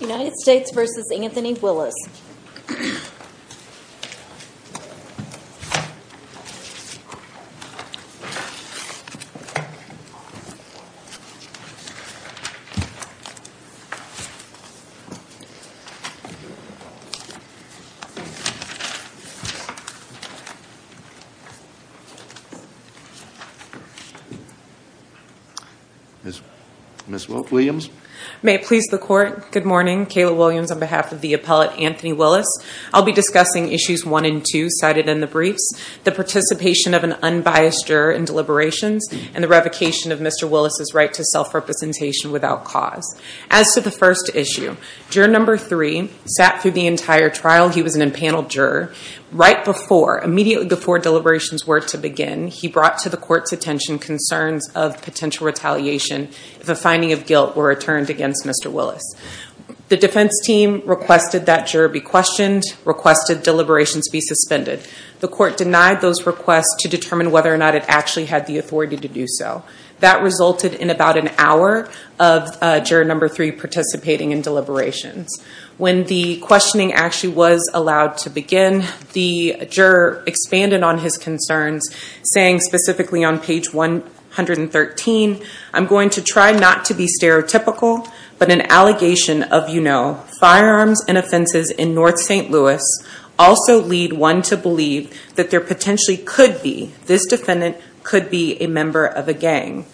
United States v. Anthony Willis Ms. Wilk-Williams? May it please the court good morning Kayla Williams on behalf of the appellate Anthony Willis I'll be discussing issues 1 & 2 cited in the briefs the participation of an unbiased juror in deliberations and the revocation of Mr. Willis's right to self-representation without cause. As to the first issue, juror number three sat through the entire trial He was an impaneled juror right before immediately before deliberations were to begin He brought to the court's attention concerns of potential retaliation if a finding of guilt were returned against. Mr. Willis The defense team requested that juror be questioned Requested deliberations be suspended. The court denied those requests to determine whether or not it actually had the authority to do so that resulted in about an hour of juror number three participating in deliberations when the Questioning actually was allowed to begin the juror expanded on his concerns saying specifically on page 113 I'm going to try not to be stereotypical but an allegation of you know firearms and offenses in North St. Louis also lead one to believe that there potentially could be this defendant could be a member of a gang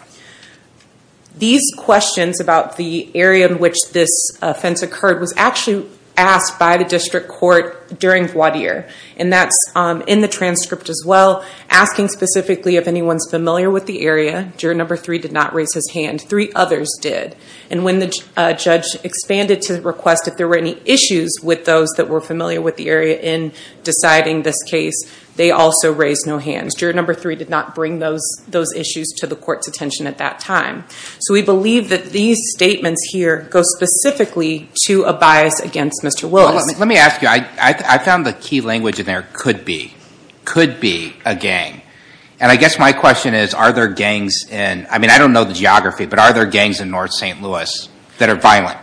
These questions about the area in which this offense occurred was actually Asked by the district court during voir dire and that's in the transcript as well Asking specifically if anyone's familiar with the area juror number three did not raise his hand three others did and when the judge Expanded to request if there were any issues with those that were familiar with the area in Deciding this case they also raised no hands juror number three did not bring those those issues to the court's attention at that time So we believe that these statements here go specifically to a bias against mr. Willis let me ask you I found the key language in there could be Could be a gang and I guess my question is are there gangs and I mean I don't know the geography But are there gangs in North st. Louis that are violent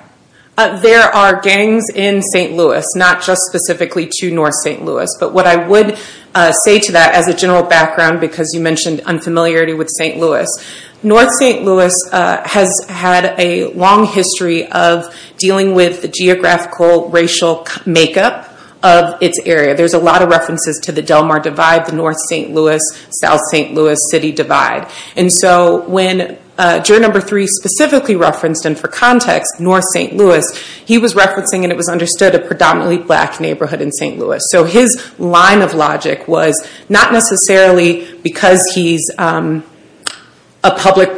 There are gangs in st. Louis not just specifically to North st. Louis, but what I would Say to that as a general background because you mentioned unfamiliarity with st. Louis North st Louis has had a long history of dealing with the geographical racial Makeup of its area. There's a lot of references to the Del Mar divide the North st Louis South st. Louis city divide and so when Juror number three specifically referenced and for context North st. Louis He was referencing and it was understood a predominantly black neighborhood in st. Louis so his line of logic was not necessarily because he's a Public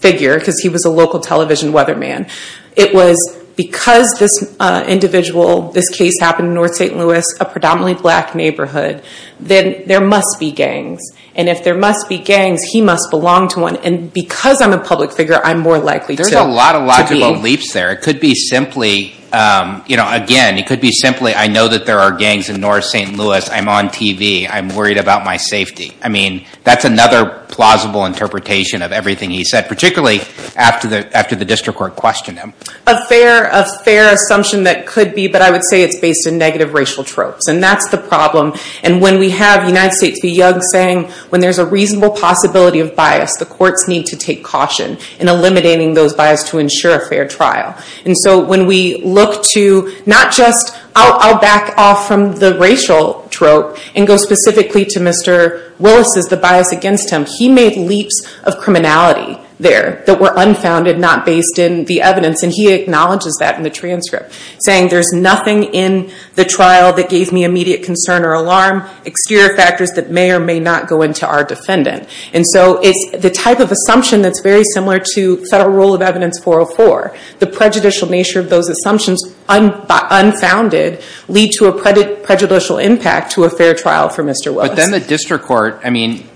figure because he was a local television weatherman. It was because this Individual this case happened in North st. Louis a predominantly black neighborhood Then there must be gangs and if there must be gangs He must belong to one and because I'm a public figure I'm more likely there's a lot of logical leaps there It could be simply You know again, it could be simply I know that there are gangs in North st. Louis. I'm on TV I'm worried about my safety. I mean, that's another plausible interpretation of everything He said particularly after the after the district court questioned him a fair a fair assumption that could be but I would say it's based In negative racial tropes and that's the problem and when we have United States be young saying when there's a reasonable Possibility of bias the courts need to take caution in eliminating those bias to ensure a fair trial And so when we look to not just I'll back off from the racial Trope and go specifically to mr. Willis is the bias against him He made leaps of criminality There that were unfounded not based in the evidence and he acknowledges that in the transcript saying there's nothing in The trial that gave me immediate concern or alarm Exterior factors that may or may not go into our defendant and so it's the type of assumption That's very similar to federal rule of evidence 404 the prejudicial nature of those assumptions I'm Unfounded lead to a pretty prejudicial impact to a fair trial for mr. Well, then the district court. I mean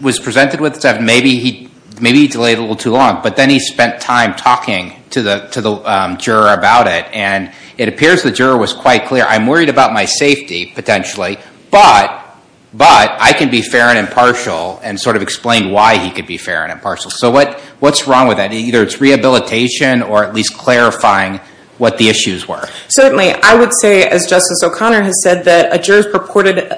Was presented with seven maybe he maybe delayed a little too long But then he spent time talking to the to the juror about it and it appears the juror was quite clear I'm worried about my safety potentially, but But I can be fair and impartial and sort of explain why he could be fair and impartial So what what's wrong with that either it's rehabilitation or at least clarifying what the issues were certainly I would say as justice O'Connor has said that a jurors purported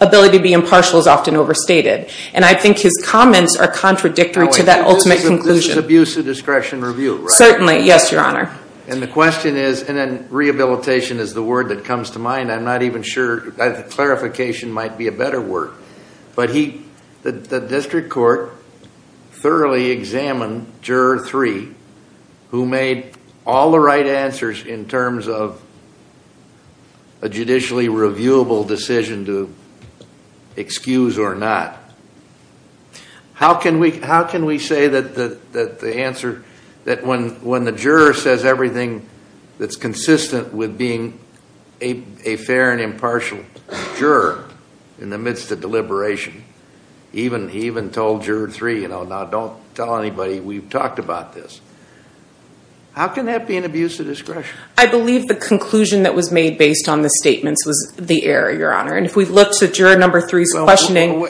Ability to be impartial is often overstated and I think his comments are contradictory to that ultimate conclusion abuse of discretion review Certainly. Yes, your honor. And the question is and then rehabilitation is the word that comes to mind I'm not even sure that the clarification might be a better word, but he the district court Thoroughly examined juror three who made all the right answers in terms of a Judicially reviewable decision to Excuse or not How can we how can we say that the that the answer that when when the juror says everything? That's consistent with being a a fair and impartial Juror in the midst of deliberation even he even told juror three, you know, now don't tell anybody we've talked about this How can that be an abuse of discretion? I believe the conclusion that was made based on the statements was the error your honor And if we've looked at your number threes questioning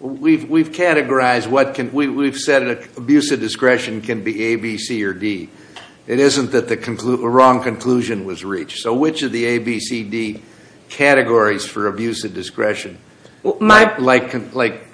We've we've categorized what can we've said an abuse of discretion can be a B C or D It isn't that the conclude the wrong conclusion was reached so which of the a B C D categories for abuse of discretion my like like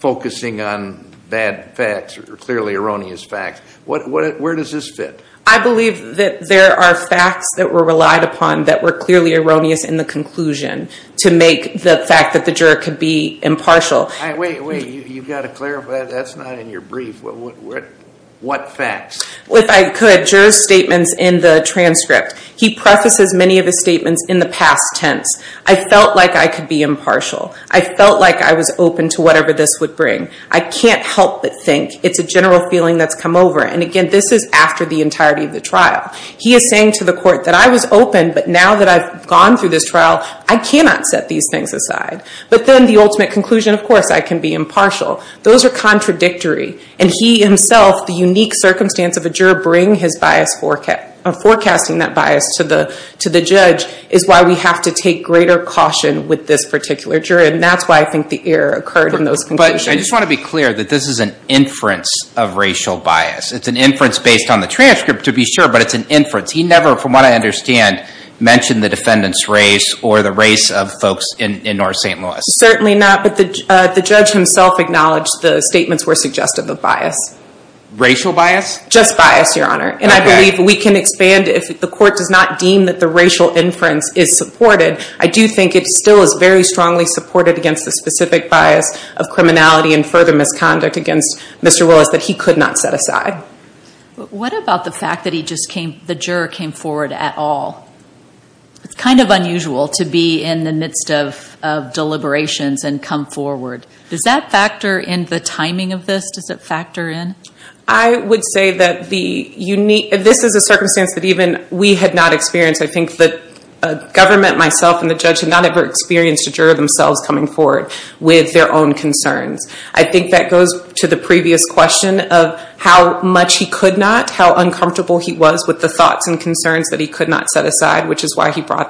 Focusing on bad facts or clearly erroneous facts. What where does this fit? I believe that there are facts that were relied upon that were clearly erroneous in the conclusion To make the fact that the juror could be impartial. I wait. You've got to clarify. That's not in your brief What facts if I could jurors statements in the transcript he prefaces many of his statements in the past tense I felt like I could be impartial. I felt like I was open to whatever this would bring I can't help but think it's a general feeling that's come over and again This is after the entirety of the trial He is saying to the court that I was open but now that I've gone through this trial I cannot set these things aside, but then the ultimate conclusion, of course, I can be impartial those are contradictory and he himself the unique circumstance of a juror bring his bias for Forecasting that bias to the to the judge is why we have to take greater caution with this particular jury And that's why I think the error occurred in those but I just want to be clear that this is an inference of racial bias It's an inference based on the transcript to be sure but it's an inference. He never from what I understand Mentioned the defendants race or the race of folks in North st. Louis Certainly not but the the judge himself acknowledged the statements were suggestive of bias Racial bias just bias your honor and I believe we can expand if the court does not deem that the racial inference is supported I do think it still is very strongly supported against the specific bias of criminality and further misconduct against mr Willis that he could not set aside What about the fact that he just came the juror came forward at all? It's kind of unusual to be in the midst of Deliberations and come forward. Does that factor in the timing of this? Does it factor in? I would say that the unique this is a circumstance that even we had not experienced. I think that Government myself and the judge had not ever experienced a juror themselves coming forward with their own concerns I think that goes to the previous question of how much he could not how Which is why he brought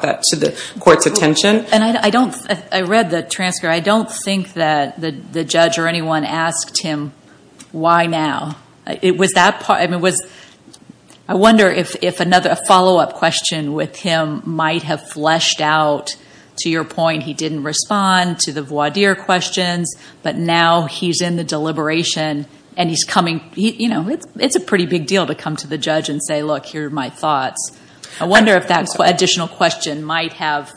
that to the court's attention and I don't I read the transcript I don't think that the judge or anyone asked him Why now it was that part? It was I wonder if if another a follow-up question with him might have fleshed out To your point, he didn't respond to the voir dire questions But now he's in the deliberation and he's coming, you know It's it's a pretty big deal to come to the judge and say look here my thoughts I wonder if that's what additional question might have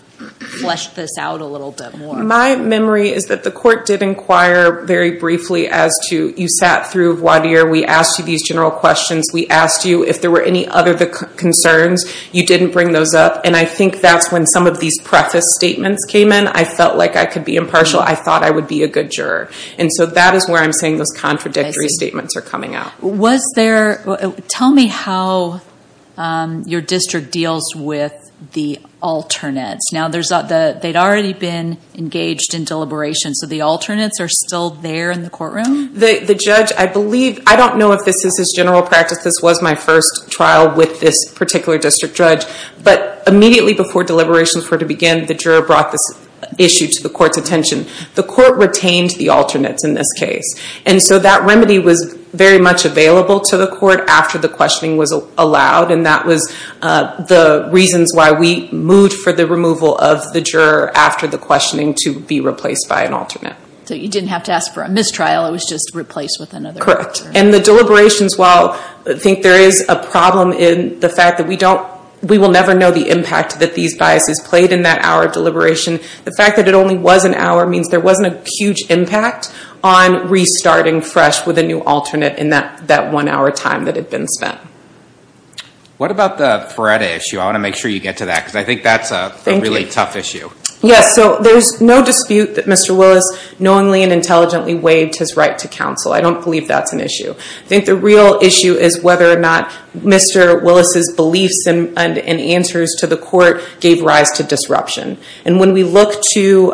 Fleshed this out a little bit more My memory is that the court did inquire very briefly as to you sat through voir dire We asked you these general questions We asked you if there were any other the concerns you didn't bring those up And I think that's when some of these preface statements came in. I felt like I could be impartial I thought I would be a good juror. And so that is where I'm saying those contradictory statements are coming out. Was there? Tell me how Your district deals with the Alternates now, there's not the they'd already been engaged in deliberation So the alternates are still there in the courtroom the the judge I believe I don't know if this is his general practice This was my first trial with this particular district judge But immediately before deliberations were to begin the juror brought this issue to the court's attention The court retained the alternates in this case and so that remedy was very much available to the court after the questioning was allowed and that was The reasons why we moved for the removal of the juror after the questioning to be replaced by an alternate So you didn't have to ask for a mistrial. It was just replaced with another correct and the deliberations Well, I think there is a problem in the fact that we don't we will never know the impact that these biases played in that Our deliberation the fact that it only was an hour means there wasn't a huge impact on Restarting fresh with a new alternate in that that one-hour time that had been spent What about the Feretta issue? I want to make sure you get to that because I think that's a really tough issue Yes, so there's no dispute that Mr. Willis knowingly and intelligently waived his right to counsel. I don't believe that's an issue I think the real issue is whether or not Mr. Willis's beliefs and answers to the court gave rise to disruption and when we look to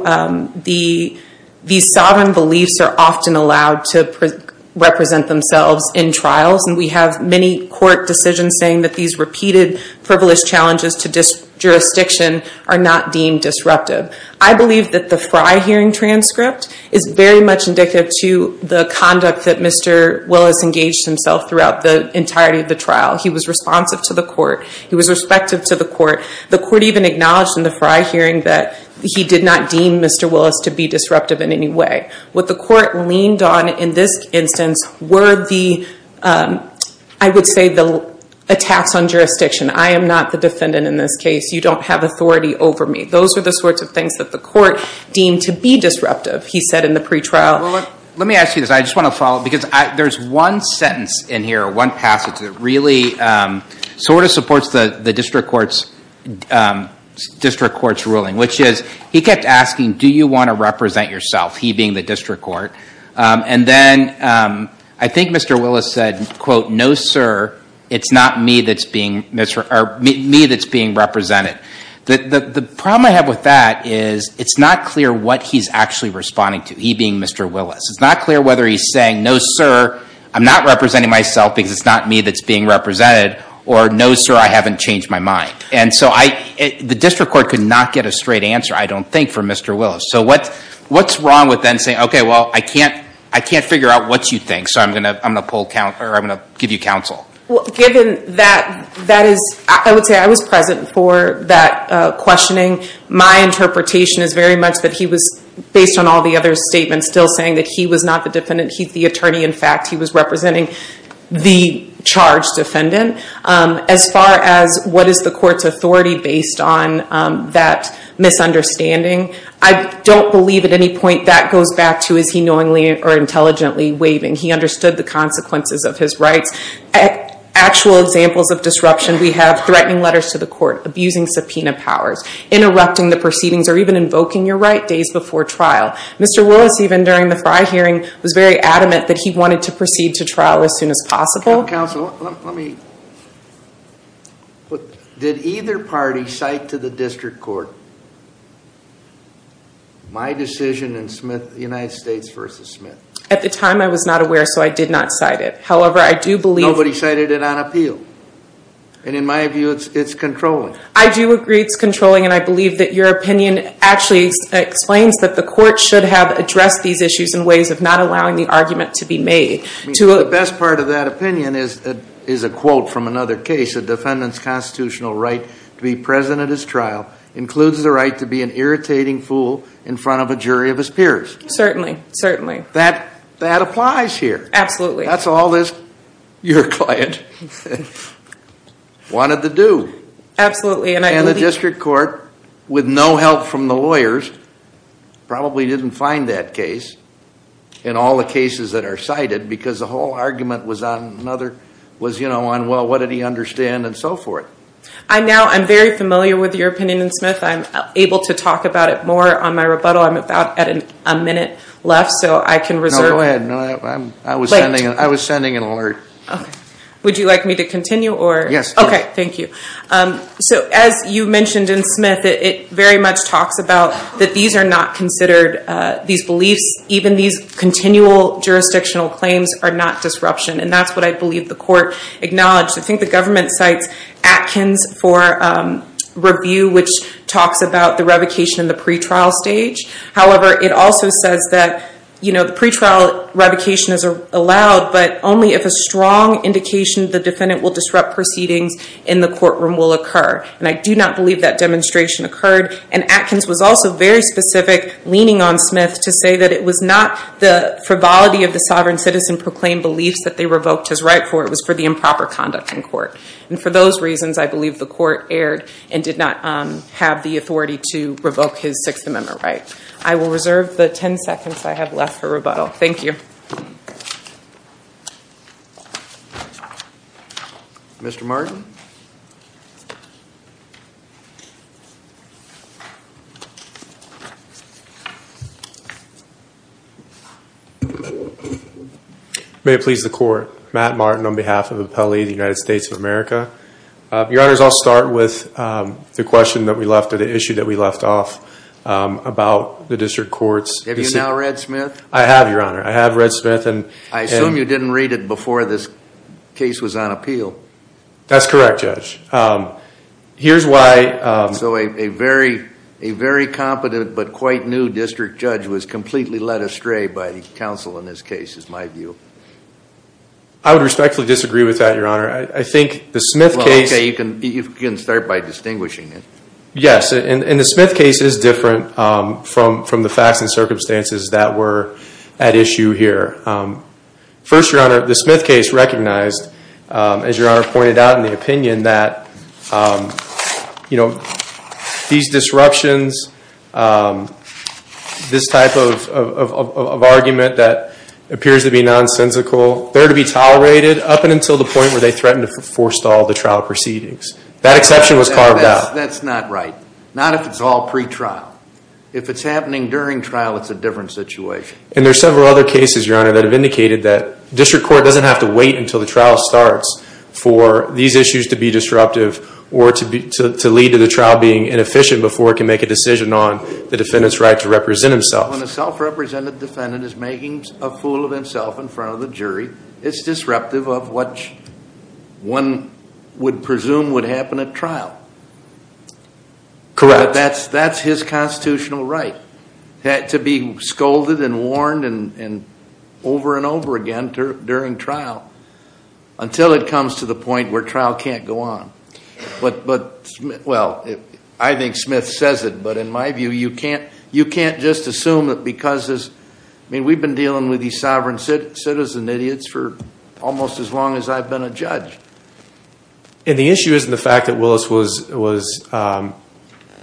the These sovereign beliefs are often allowed to represent themselves in trials and we have many court decisions saying that these repeated privilege challenges to Jurisdiction are not deemed disruptive I believe that the Fry hearing transcript is very much indicative to the conduct that Mr Willis engaged himself throughout the entirety of the trial. He was responsive to the court He was respective to the court the court even acknowledged in the Fry hearing that he did not deem. Mr Willis to be disruptive in any way what the court leaned on in this instance were the I would say the attacks on jurisdiction. I am NOT the defendant in this case. You don't have authority over me Those are the sorts of things that the court deemed to be disruptive. He said in the pretrial Let me ask you this. I just want to follow because there's one sentence in here one passage. It really Sort of supports the the district courts District courts ruling which is he kept asking. Do you want to represent yourself? He being the district court and then I think mr Willis said quote no, sir. It's not me. That's being Mr. Or me that's being represented that the problem I have with that is it's not clear what he's actually responding to he being Mr. Willis, it's not clear whether he's saying no, sir I'm not representing myself because it's not me that's being represented or no, sir I haven't changed my mind. And so I the district court could not get a straight answer. I don't think for mr Willis, so what what's wrong with then saying? Okay. Well, I can't I can't figure out what you think So I'm gonna I'm gonna pull count or I'm gonna give you counsel Given that that is I would say I was present for that Questioning my interpretation is very much that he was based on all the other statements still saying that he was not the defendant He's the attorney. In fact, he was representing The charged defendant as far as what is the court's authority based on that Misunderstanding. I don't believe at any point that goes back to is he knowingly or intelligently waving? He understood the consequences of his rights Actual examples of disruption. We have threatening letters to the court abusing subpoena powers Interrupting the proceedings or even invoking your right days before trial. Mr Willis even during the fry hearing was very adamant that he wanted to proceed to trial as soon as possible council. Let me But did either party cite to the district court My decision and Smith the United States versus Smith at the time I was not aware so I did not cite it However, I do believe what he cited it on appeal And in my view, it's it's controlling. I do agree. It's controlling and I believe that your opinion actually Explains that the court should have addressed these issues in ways of not allowing the argument to be made To a best part of that opinion is that is a quote from another case a defendant's constitutional right to be present at his trial Includes the right to be an irritating fool in front of a jury of his peers Certainly certainly that that applies here. Absolutely. That's all this your client Wanted to do Absolutely, and I know the district court with no help from the lawyers Probably didn't find that case In all the cases that are cited because the whole argument was on another was you know on well What did he understand and so forth? I now I'm very familiar with your opinion and Smith I'm able to talk about it more on my rebuttal. I'm about at an a minute left so I can reserve Oh, I had no I'm I was sending it. I was sending an alert. Okay, would you like me to continue or yes? Okay. Thank you So as you mentioned in Smith, it very much talks about that. These are not considered these beliefs even these Continual jurisdictional claims are not disruption. And that's what I believe the court acknowledged. I think the government cites Atkins for Review which talks about the revocation in the pretrial stage However, it also says that you know The pretrial revocation is allowed but only if a strong Indication the defendant will disrupt proceedings in the courtroom will occur and I do not believe that demonstration occurred and Atkins was also very specific Leaning on Smith to say that it was not the frivolity of the sovereign citizen Proclaimed beliefs that they revoked his right for it was for the improper conduct in court And for those reasons, I believe the court erred and did not have the authority to revoke his Sixth Amendment, right? I will reserve the ten seconds. I have left for rebuttal. Thank you Mr. Martin May it please the court Matt Martin on behalf of the Pele the United States of America Your honors. I'll start with the question that we left at the issue that we left off About the district courts. Have you now read Smith? I have your honor. I have read Smith and I assume you didn't read it before this Case was on appeal. That's correct judge Here's why so a very a very competent But quite new district judge was completely led astray by the council in this case is my view. I Would respectfully disagree with that your honor. I think the Smith case you can you can start by distinguishing it Yes, and in the Smith case is different from from the facts and circumstances that were at issue here First your honor the Smith case recognized as your honor pointed out in the opinion that You know these disruptions This type of Argument that appears to be nonsensical There to be tolerated up and until the point where they threatened to forestall the trial proceedings that exception was carved out That's not right. Not if it's all pre trial if it's happening during trial It's a different situation and there's several other cases your honor that have indicated that District Court doesn't have to wait until the trial starts For these issues to be disruptive or to be to lead to the trial being Inefficient before it can make a decision on the defendants right to represent himself when a self-represented Defendant is making a fool of himself in front of the jury. It's disruptive of what? One would presume would happen at trial Correct that's that's his constitutional right had to be scolded and warned and over and over again during trial Until it comes to the point where trial can't go on but but well I think Smith says it but in my view you can't you can't just assume that because as I mean We've been dealing with these sovereign citizen idiots for almost as long as I've been a judge And the issue isn't the fact that Willis was was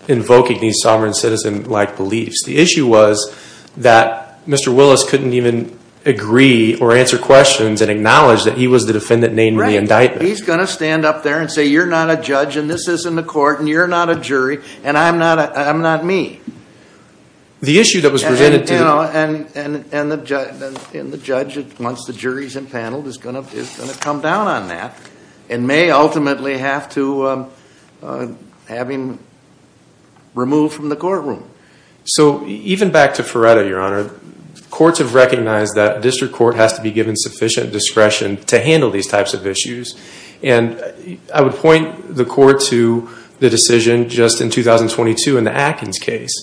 Invoking these sovereign citizen like beliefs the issue was that Mr. Willis couldn't even agree or answer questions and acknowledge that he was the defendant named the indictment He's gonna stand up there and say you're not a judge and this is in the court and you're not a jury and I'm not I'm not me the issue that was presented to you know and In the judge once the jury's impaneled is gonna come down on that and may ultimately have to Having Removed from the courtroom. So even back to Feretta your honor courts have recognized that district court has to be given sufficient discretion to handle these types of issues and I would point the court to the decision just in 2022 in the Atkins case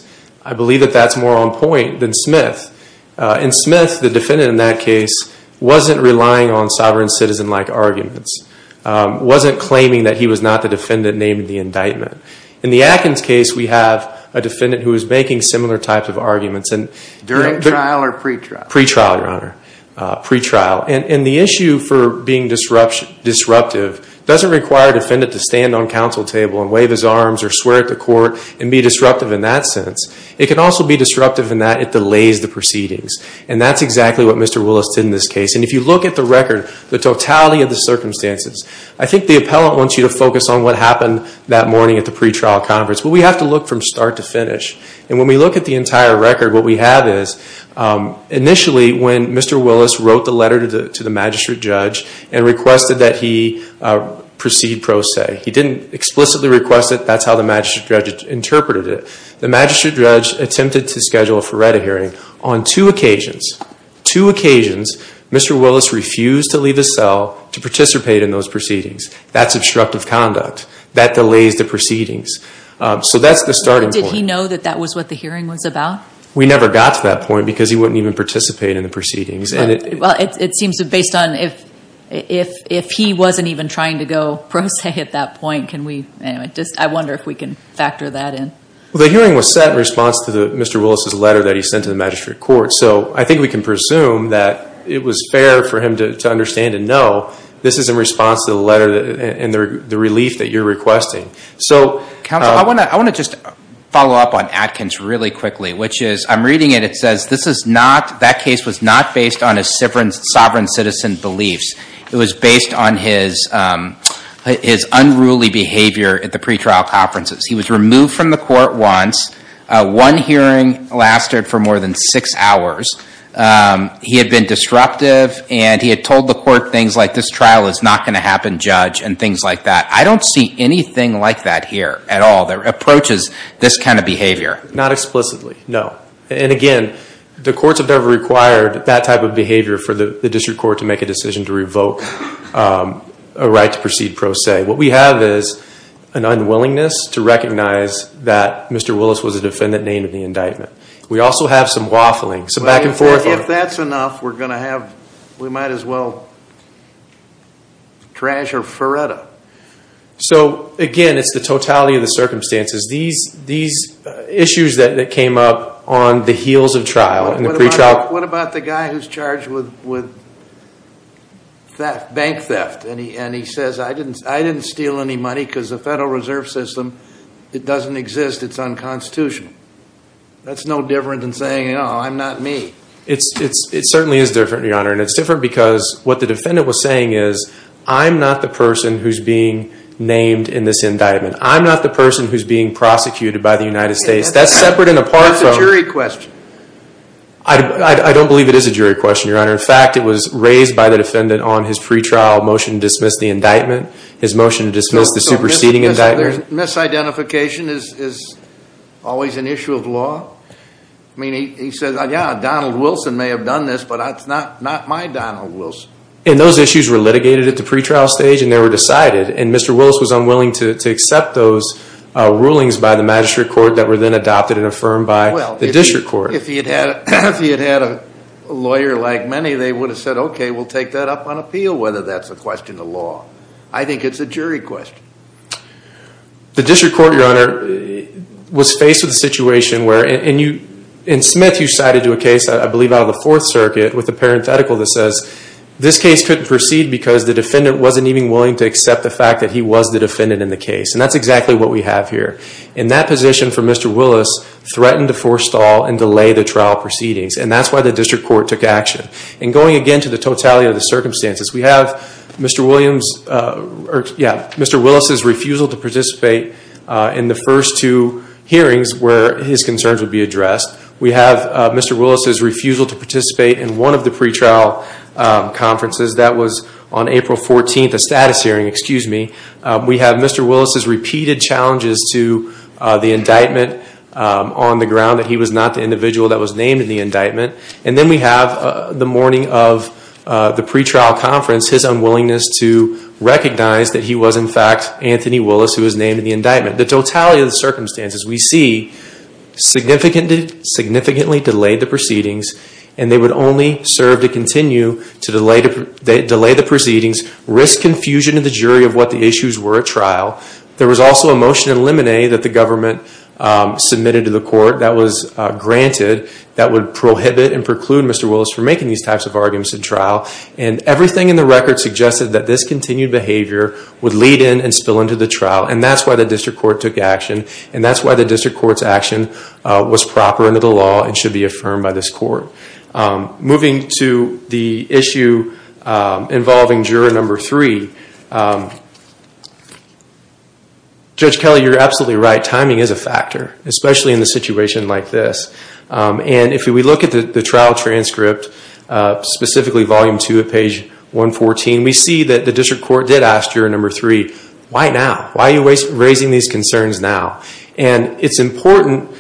I believe that that's more on point than Smith in Smith the defendant in that case wasn't relying on sovereign citizen like arguments Wasn't claiming that he was not the defendant named the indictment in the Atkins case We have a defendant who is making similar types of arguments and during trial or pre-trial pre-trial your honor Pre-trial and in the issue for being disruption disruptive Doesn't require defendant to stand on counsel table and wave his arms or swear at the court and be disruptive in that sense It can also be disruptive in that it delays the proceedings and that's exactly what mr Willis did in this case and if you look at the record the totality of the circumstances I think the appellant wants you to focus on what happened that morning at the pre-trial conference But we have to look from start to finish and when we look at the entire record what we have is Initially when mr. Willis wrote the letter to the to the magistrate judge and requested that he Proceed pro se he didn't explicitly request it. That's how the magistrate judge interpreted it The magistrate judge attempted to schedule for read a hearing on two occasions two occasions Mr. Willis refused to leave a cell to participate in those proceedings. That's obstructive conduct that delays the proceedings So that's the starting did he know that that was what the hearing was about? We never got to that point because he wouldn't even participate in the proceedings Well, it seems to based on if if if he wasn't even trying to go pro se hit that point Can we just I wonder if we can factor that in? Well, the hearing was set in response to the mr Willis's letter that he sent to the magistrate court So I think we can presume that it was fair for him to understand and know This is in response to the letter and the relief that you're requesting So I want to I want to just follow up on Atkins really quickly, which is I'm reading it It says this is not that case was not based on a severance sovereign citizen beliefs. It was based on his His unruly behavior at the pretrial conferences. He was removed from the court once One hearing lasted for more than six hours He had been disruptive and he had told the court things like this trial is not going to happen judge and things like that I don't see anything like that here at all that approaches this kind of behavior not explicitly No, and again, the courts have never required that type of behavior for the district court to make a decision to revoke a right to proceed pro se what we have is an Unwillingness to recognize that. Mr. Willis was a defendant named in the indictment We also have some waffling so back and forth if that's enough. We're gonna have we might as well Trash or Faretta So again, it's the totality of the circumstances these these Issues that came up on the heels of trial in the pretrial. What about the guy who's charged with with That bank theft and he and he says I didn't I didn't steal any money because the Federal Reserve System it doesn't exist It's unconstitutional That's no different than saying. You know, I'm not me It's it's it certainly is different your honor and it's different because what the defendant was saying is I'm not the person who's being Named in this indictment. I'm not the person who's being prosecuted by the United States That's separate and apart from the jury question. I Don't believe it is a jury question your honor In fact, it was raised by the defendant on his pretrial motion dismissed the indictment his motion to dismiss the superseding indictment identification is Always an issue of law. I mean he said yeah, Donald Wilson may have done this But that's not not my Donald Wilson and those issues were litigated at the pretrial stage and they were decided and mr Willis was unwilling to accept those Rulings by the magistrate court that were then adopted and affirmed by the district court if he had had a lawyer like many They would have said, okay, we'll take that up on appeal whether that's a question of law. I think it's a jury question the district court your honor Was faced with a situation where and you in Smith you cited to a case I believe out of the Fourth Circuit with the parenthetical that says This case couldn't proceed because the defendant wasn't even willing to accept the fact that he was the defendant in the case And that's exactly what we have here in that position for mr Willis threatened to forestall and delay the trial proceedings and that's why the district court took action and going again to the totality of the Circumstances we have mr. Williams Yeah, mr. Willis's refusal to participate in the first two hearings where his concerns would be addressed We have mr. Willis's refusal to participate in one of the pretrial Conferences that was on April 14th a status hearing. Excuse me. We have mr Willis's repeated challenges to the indictment on the ground that he was not the individual that was named in the indictment and then we have the morning of the pretrial conference his unwillingness to Recognize that he was in fact Anthony Willis who was named in the indictment the totality of the circumstances we see Significantly significantly delayed the proceedings and they would only serve to continue to delay to delay the proceedings Risk confusion in the jury of what the issues were at trial. There was also a motion in limine that the government Submitted to the court that was granted that would prohibit and preclude. Mr Willis for making these types of arguments in trial and Everything in the record suggested that this continued behavior would lead in and spill into the trial and that's why the district court took action And that's why the district courts action was proper into the law and should be affirmed by this court moving to the issue Involving juror number three Judge Kelly, you're absolutely right timing is a factor especially in the situation like this And if we look at the trial transcript Specifically volume two at page 114. We see that the district court did ask your number three Why now why are you raising these concerns now and it's important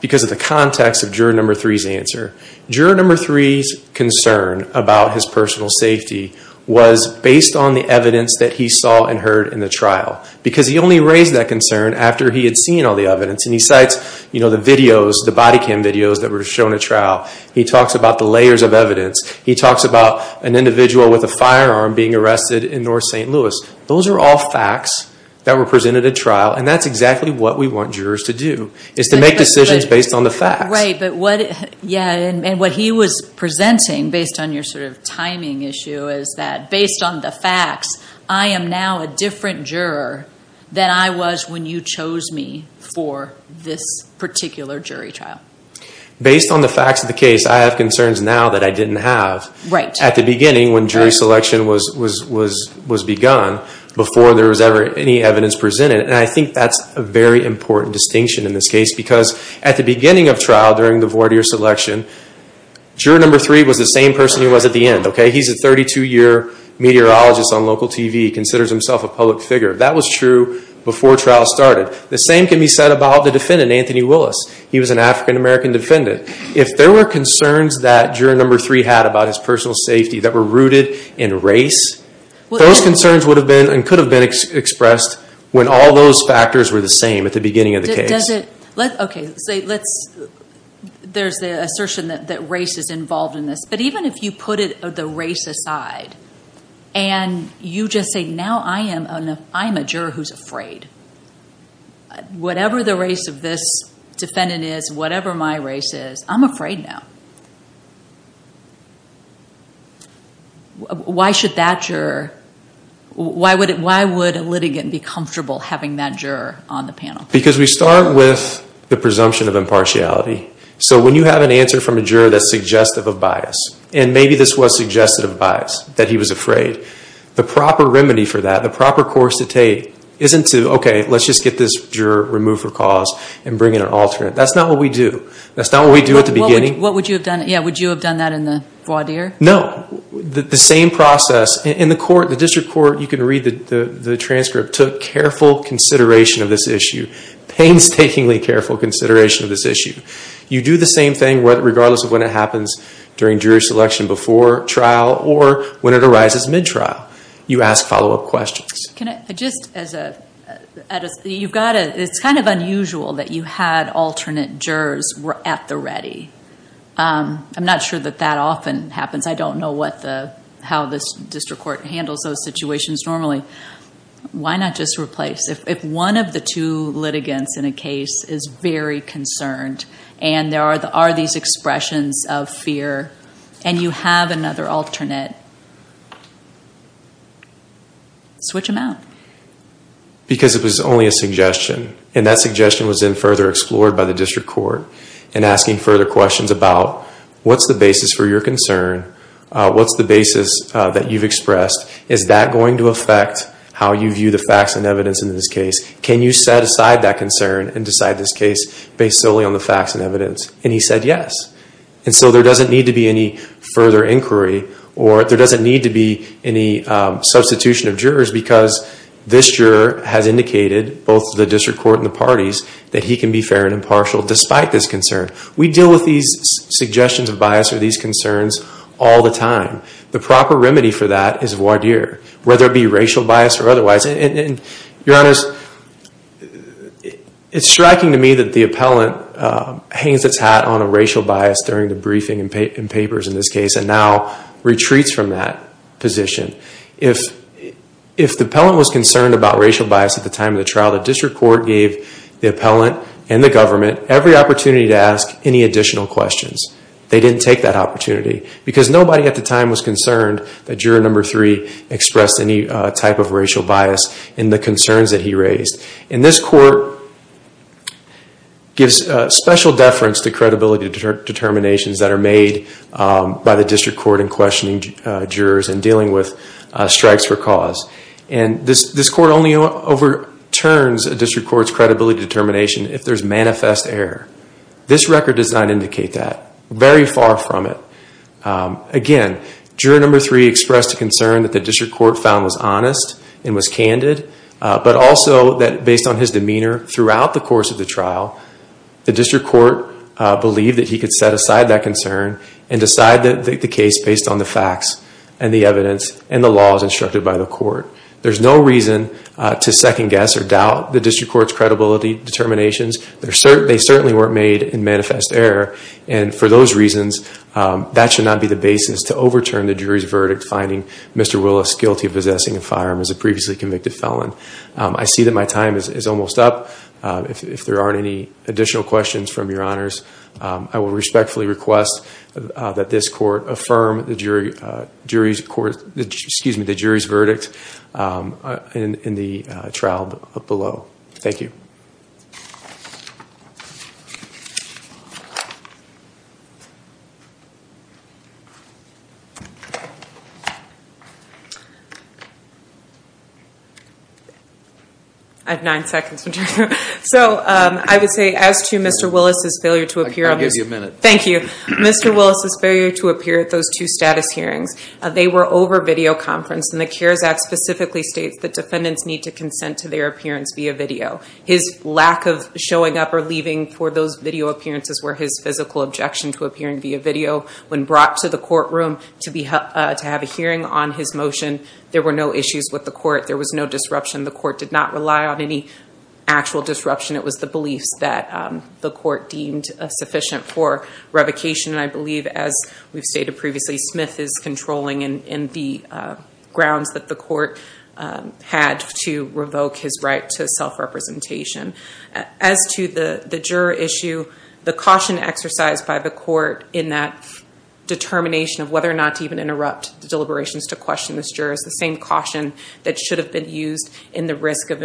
Because of the context of juror number three's answer juror number three's concern about his personal safety Was based on the evidence that he saw and heard in the trial Because he only raised that concern after he had seen all the evidence and he cites, you know The videos the body cam videos that were shown at trial. He talks about the layers of evidence He talks about an individual with a firearm being arrested in North st. Louis Those are all facts that were presented at trial and that's exactly what we want jurors to do is to make decisions based on the fact right but what yeah and what he was Presenting based on your sort of timing issue is that based on the facts? I am now a different juror than I was when you chose me for this particular jury trial Based on the facts of the case I have concerns now that I didn't have right at the beginning when jury selection was was was was begun Before there was ever any evidence presented and I think that's a very important distinction in this case because at the beginning of trial during the voir dire selection Juror number three was the same person. He was at the end. Okay. He's a 32-year Meteorologist on local TV considers himself a public figure that was true before trial started the same can be said about the defendant Anthony Willis He was an african-american defendant if there were concerns that juror number three had about his personal safety that were rooted in race Those concerns would have been and could have been Expressed when all those factors were the same at the beginning of the case. Okay, so let's there's the assertion that that race is involved in this, but even if you put it of the race aside and You just say now I am a I'm a juror who's afraid Whatever the race of this defendant is whatever my race is I'm afraid now Why should that juror Why would it why would a litigant be comfortable having that juror on the panel because we start with the presumption of impartiality So when you have an answer from a juror that's suggestive of bias and maybe this was suggestive of bias that he was afraid The proper remedy for that the proper course to take isn't to okay Let's just get this juror removed for cause and bring in an alternate. That's not what we do That's not what we do at the beginning. What would you have done? Yeah, would you have done that in the voir dire? No, the same process in the court the district court. You can read the Transcript took careful consideration of this issue Painstakingly careful consideration of this issue. You do the same thing What regardless of when it happens during jury selection before trial or when it arises mid-trial you ask follow-up questions? can I just as a You've got it it's kind of unusual that you had alternate jurors were at the ready I'm not sure that that often happens. I don't know what the how this district court handles those situations normally Why not just replace if one of the two litigants in a case is very concerned And there are the are these expressions of fear and you have another alternate Switch them out Because it was only a suggestion and that suggestion was in further explored by the district court and asking further questions about What's the basis for your concern? What's the basis that you've expressed? Is that going to affect how you view the facts and evidence in this case? Can you set aside that concern and decide this case based solely on the facts and evidence and he said yes And so there doesn't need to be any further inquiry or there doesn't need to be any Substitution of jurors because this juror has indicated both the district court and the parties that he can be fair and impartial despite this concern We deal with these Suggestions of bias or these concerns all the time the proper remedy for that is voir dire Whether it be racial bias or otherwise and your honors It's striking to me that the appellant Hangs its hat on a racial bias during the briefing and papers in this case and now retreats from that position if If the appellant was concerned about racial bias at the time of the trial the district court gave The appellant and the government every opportunity to ask any additional questions They didn't take that opportunity because nobody at the time was concerned that juror number three Expressed any type of racial bias in the concerns that he raised in this court Gives special deference to credibility determinations that are made By the district court in questioning jurors and dealing with Strikes for cause and this this court only overturns a district courts credibility determination if there's manifest error This record does not indicate that very far from it Again, juror number three expressed a concern that the district court found was honest and was candid But also that based on his demeanor throughout the course of the trial the district court Believed that he could set aside that concern and decide that the case based on the facts and the evidence and the laws instructed by The court there's no reason to second-guess or doubt the district courts credibility determinations They're certain they certainly weren't made in manifest error. And for those reasons That should not be the basis to overturn the jury's verdict finding. Mr Willis guilty of possessing a firearm as a previously convicted felon I see that my time is almost up if there aren't any additional questions from your honors I will respectfully request that this court affirm the jury jury's court. Excuse me the jury's verdict In the trial below. Thank you I Have nine seconds, so I would say as to mr. Willis's failure to appear. I'll give you a minute. Thank you Mr. Willis's failure to appear at those two status hearings They were over video conference and the cares act specifically states that defendants need to consent to their appearance via video His lack of showing up or leaving for those video appearances were his physical objection to appearing via video When brought to the courtroom to be to have a hearing on his motion. There were no issues with the court There was no disruption. The court did not rely on any Actual disruption. It was the beliefs that the court deemed a sufficient for revocation and I believe as we've stated previously Smith is controlling and in the grounds that the court Had to revoke his right to self representation as to the the juror issue the caution exercised by the court in that determination of whether or not to even interrupt the deliberations to question this jurors the same caution that should have been used in the risk of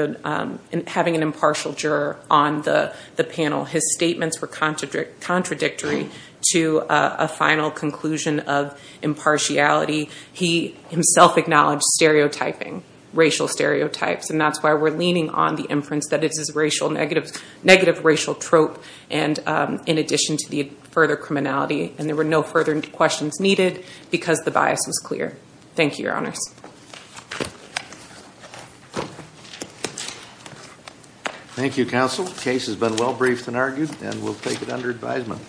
having an impartial juror on the the panel his statements were contradictory to a final conclusion of impartiality he himself acknowledged stereotyping racial stereotypes and that's why we're leaning on the inference that it is racial negative negative racial trope and In addition to the further criminality and there were no further questions needed because the bias was clear. Thank you your honors Thank You counsel case has been well briefed and argued and we'll take it under advisement